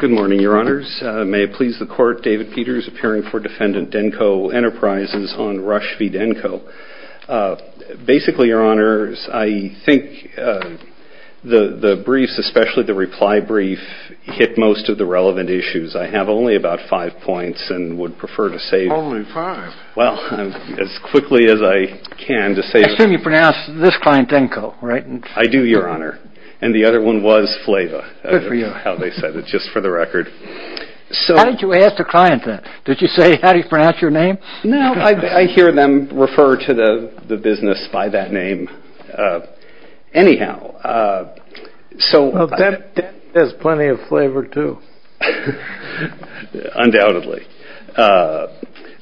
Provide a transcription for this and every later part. Good morning, Your Honors. May it please the Court, David Peters, appearing for Defendant Denco Enterprises on Rush v. Denco. Basically, Your Honors, I think the briefs, especially the reply brief, hit most of the relevant issues. I have only about five points and would prefer to save them. Only five? Well, as quickly as I can to save them. I assume you pronounce this client Denco, right? I do, Your Honor. And the other one was Flava, is how they said it, just for the record. How did you ask the client that? Did you say, how do you pronounce your name? No, I hear them refer to the business by that name. Anyhow, so... Well, that has plenty of flavor, too. Yeah, undoubtedly.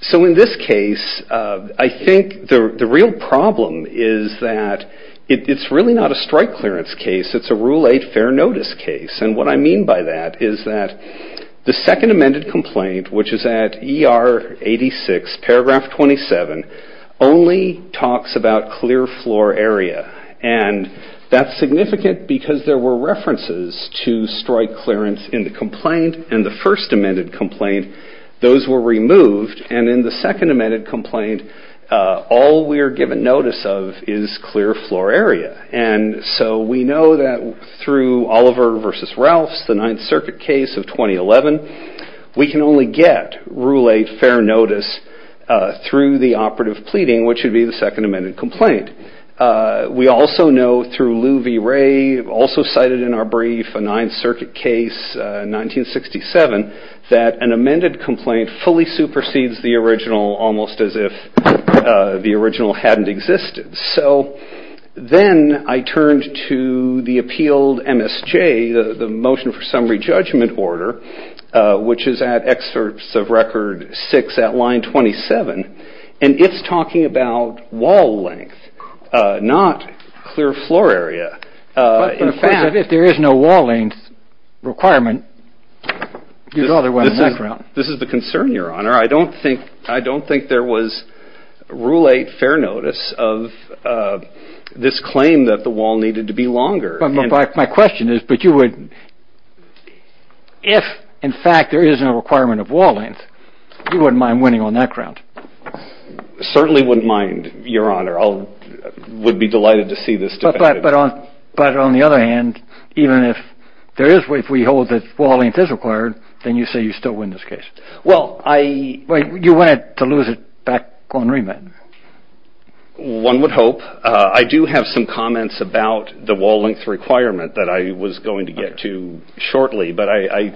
So in this case, I think the real problem is that it's really not a strike clearance case, it's a Rule 8 fair notice case. And what I mean by that is that the second amended complaint, which is at ER 86, paragraph 27, only talks about clear floor area. And that's significant because there were references to strike clearance in the complaint and the first amended complaint, those were removed. And in the second amended complaint, all we are given notice of is clear floor area. And so we know that through Oliver v. Ralphs, the Ninth Circuit case of 2011, we can only get Rule 8 fair notice through the operative pleading, which would be the second amended complaint. We also know through Lou V. Ray, also cited in our brief, a Ninth Circuit case, 1967, that an amended complaint fully supersedes the original, almost as if the original hadn't existed. So then I turned to the appealed MSJ, the motion for summary judgment order, which is at excerpts of record 6 at line 27, and it's talking about wall length, not clear floor area. But in fact, if there is no wall length requirement, you'd rather wait on that ground. This is the concern, Your Honor. I don't think there was Rule 8 fair notice of this claim that the wall needed to be longer. My question is, if in fact there is no requirement of wall length, you wouldn't mind winning on that ground? Certainly wouldn't mind, Your Honor. I would be delighted to see this defended. But on the other hand, even if we hold that wall length is required, then you say you still win this case. You win it to lose it back on remand. One would hope. I do have some comments about the wall length requirement that I was going to get to shortly, but I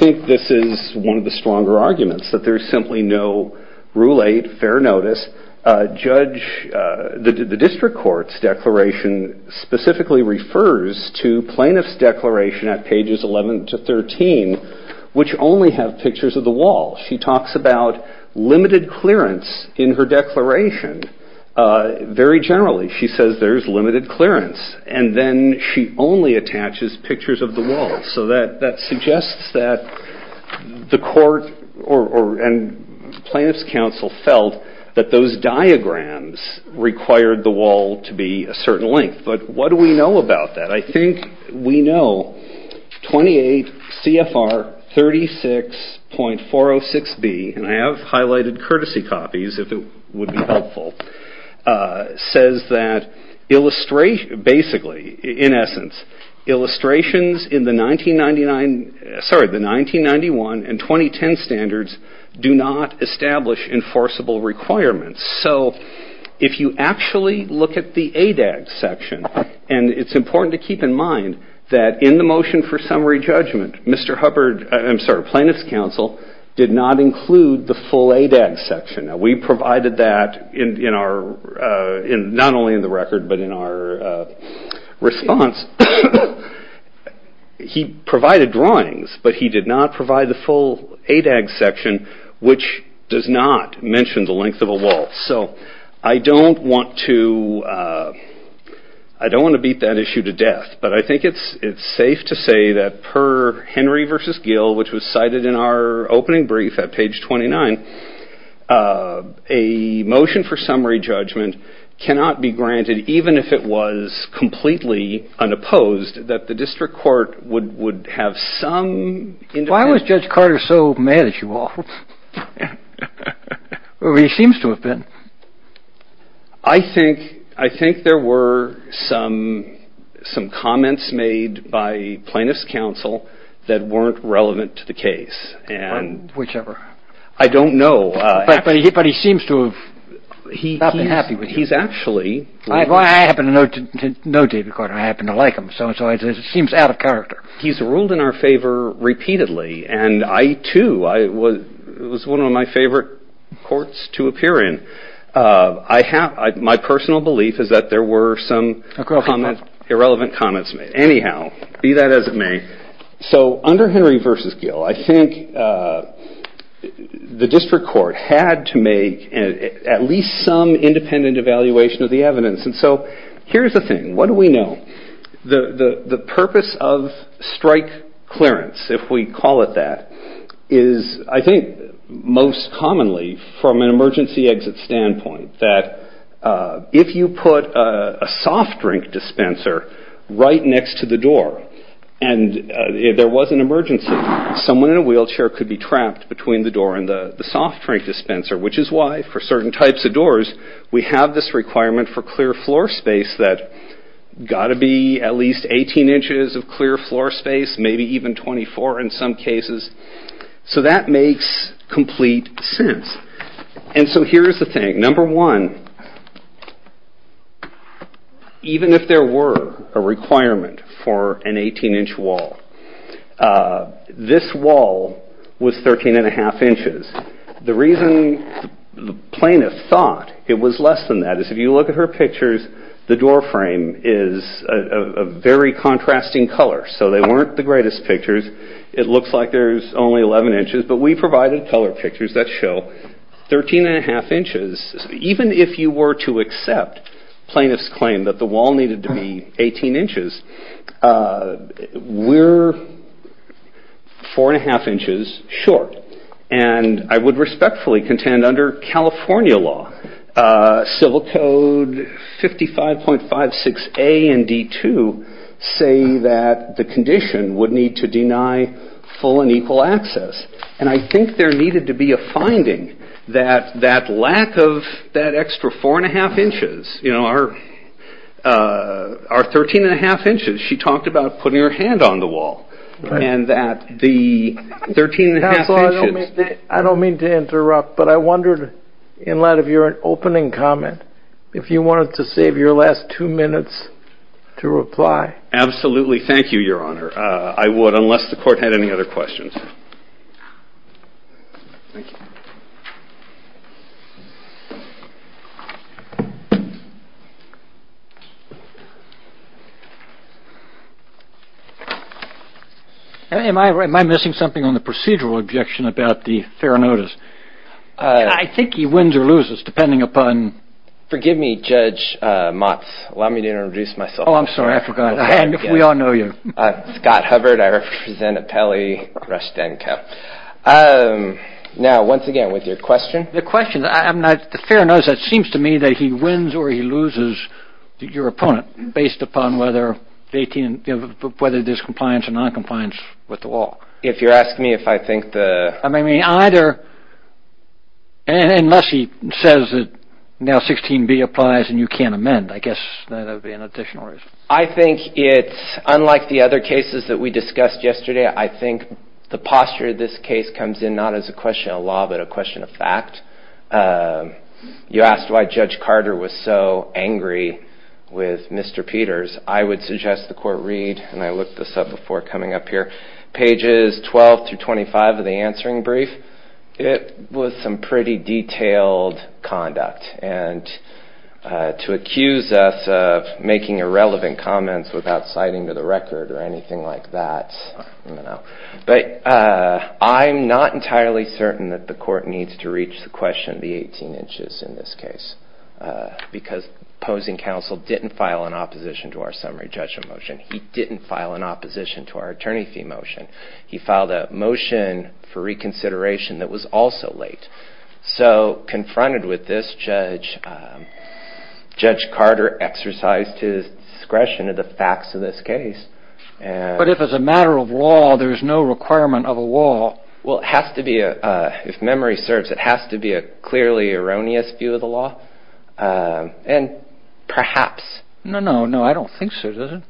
think this is one of the stronger arguments, that there's simply no Rule 8 fair notice. The district court's declaration specifically refers to plaintiff's declaration at pages 11 to 13, which only have pictures of the wall. She talks about limited clearance in her declaration. Very generally, she says there's limited clearance, and then she only attaches pictures of the wall. So that suggests that the court and plaintiff's counsel felt that those diagrams required the wall to be a certain length. But what do we know about that? I think we know 28 CFR 36.406B, and I have highlights courtesy copies, if it would be helpful, says that basically, in essence, illustrations in the 1991 and 2010 standards do not establish enforceable requirements. So if you actually look at the ADAG section, and it's important to keep in mind that in the motion for summary the full ADAG section, we provided that not only in the record, but in our response. He provided drawings, but he did not provide the full ADAG section, which does not mention the length of a wall. So I don't want to beat that issue to death, but I think it's safe to say that per Henry v. Gill, which was cited in our opening brief at page 29, a motion for summary judgment cannot be granted, even if it was completely unopposed, that the district court would have some... Why was Judge Carter so mad at you all? Well, he seems to have been. I think there were some comments made by plaintiff's counsel that weren't relevant to the case. Whichever. I don't know. But he seems to have not been happy with you. He's actually... I happen to know David Carter. I happen to like him. So it seems out of character. He's ruled in our favor repeatedly, and I, too. It was one of my favorite courts to appear in. My personal belief is that there were some irrelevant comments made. Anyhow, be that as it may, so under Henry v. Gill, I think the district court had to make at least some independent evaluation of the evidence, and so here's the thing. What do we know? The purpose of strike clearance, if we call it that, is I think most commonly from an exit standpoint, that if you put a soft drink dispenser right next to the door and there was an emergency, someone in a wheelchair could be trapped between the door and the soft drink dispenser, which is why for certain types of doors, we have this requirement for clear floor space that's got to be at least 18 inches of clear floor space, maybe even 24 in some cases. So that makes complete sense, and so here's the thing. Number one, even if there were a requirement for an 18-inch wall, this wall was 13 1⁄2 inches. The reason plaintiff thought it was less than that is if you look at her pictures, the door frame is a very small, it's only 11 inches, but we provided color pictures that show 13 1⁄2 inches. Even if you were to accept plaintiff's claim that the wall needed to be 18 inches, we're 4 1⁄2 inches short, and I would respectfully contend under California law, civil code 55.56 A and D.2 say that the condition would need to deny full and equal access, and I think there needed to be a finding that that lack of that extra 4 1⁄2 inches, you know, our 13 1⁄2 inches, she talked about putting her hand on the wall, and that the 13 1⁄2 inches... I don't mean to interrupt, but I wondered, in light of your opening comment, if you wanted to save your last two minutes to reply. Absolutely. Thank you, Your Honor. I would, unless the court had any other questions. Am I missing something on the procedural objection about the fair notice? I think he wins or loses depending upon... Oh, I'm sorry. I forgot. We all know you. Scott Hubbard. I represent Apelli Rushtenko. Now, once again, with your question... The question, the fair notice, it seems to me that he wins or he loses, your opponent, based upon whether there's compliance or non-compliance with the wall. If you're asking me if I think the... I mean, either, unless he says that now 16b applies and you can't amend, I guess that would be an additional reason. I think it's, unlike the other cases that we discussed yesterday, I think the posture of this case comes in not as a question of law, but a question of fact. You asked why Judge Carter was so angry with Mr. Peters. I would suggest the court read, and I looked this up before coming up here, pages 12 through 25 of the answering brief. It was some pretty detailed conduct, and to accuse us of making irrelevant comments without citing to the record or anything like that, I don't know. I'm not entirely certain that the court needs to reach the question of the 18 inches in this case, because opposing counsel didn't file an opposition to our summary judgment motion. He didn't file an opposition to our attorney fee motion. He filed a motion for reconsideration that was also late. So, confronted with this, Judge Carter exercised his discretion of the facts of this case, and... But if it's a matter of law, there's no requirement of a law. Well, it has to be, if memory serves, it has to be a clearly erroneous view of the law, and perhaps... No, no, no, I don't think so, does it?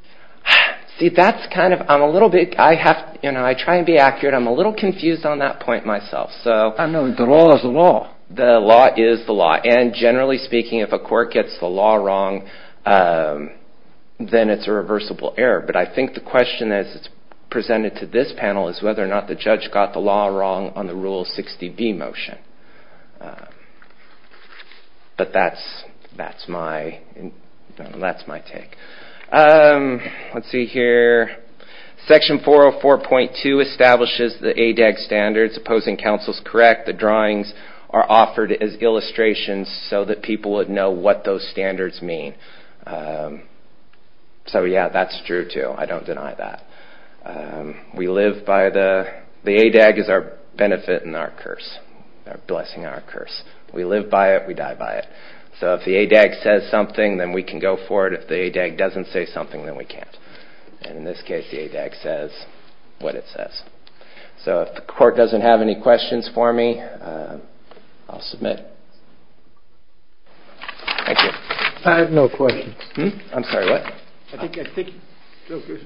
See, that's kind of... I'm a little bit... I try and be accurate. I'm a little confused on that point myself, so... No, the law is the law. The law is the law, and generally speaking, if a court gets the law wrong, then it's a reversible error. But I think the question, as it's presented to this panel, is whether or not the judge got the law wrong on the Rule 60B motion. But that's my... that's my take. Let's see here. Section 404.2 establishes the ADAG standards, opposing counsel's correct, the drawings are offered as illustrations so that people would know what those standards mean. So, yeah, that's true, too. I don't deny that. We live by the... The ADAG is our benefit and our curse, our blessing and our curse. We live by it, we die by it. So, if the ADAG doesn't say something, then we can't. And in this case, the ADAG says what it says. So, if the court doesn't have any questions for me, I'll submit. Thank you. I have no questions. I'm sorry, what? I think...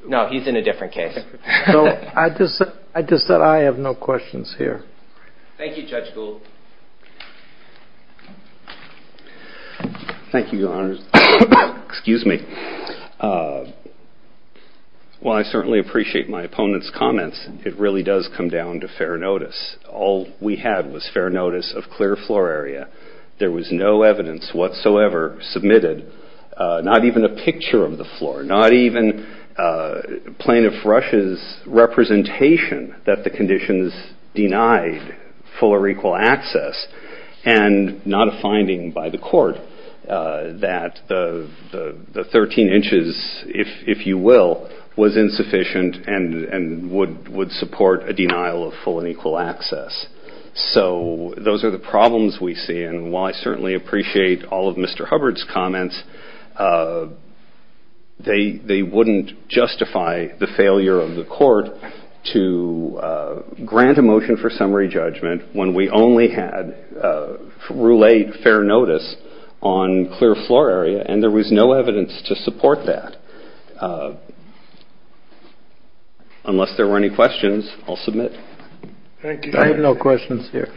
No, he's in a different case. No, I just... I just said I have no questions here. Thank you, Judge Gould. Thank you, Your Honors. Excuse me. Well, I certainly appreciate my opponent's comments. It really does come down to fair notice. All we had was fair notice of clear floor area. There was no evidence whatsoever submitted, not even a picture of the floor, not even Plaintiff Rush's representation that the conditions denied full or equal access, and not a finding by the court that the 13 inches, if you will, was insufficient and would support a denial of full and equal access. So, those are the problems we see. And while I certainly appreciate all of Mr. Hubbard's comments, they wouldn't justify the failure of the court to grant a motion for summary judgment when we only had Rule 8, fair notice, on clear floor area, and there was no evidence to support that. Unless there were any questions, I'll submit. Thank you. I have no questions here.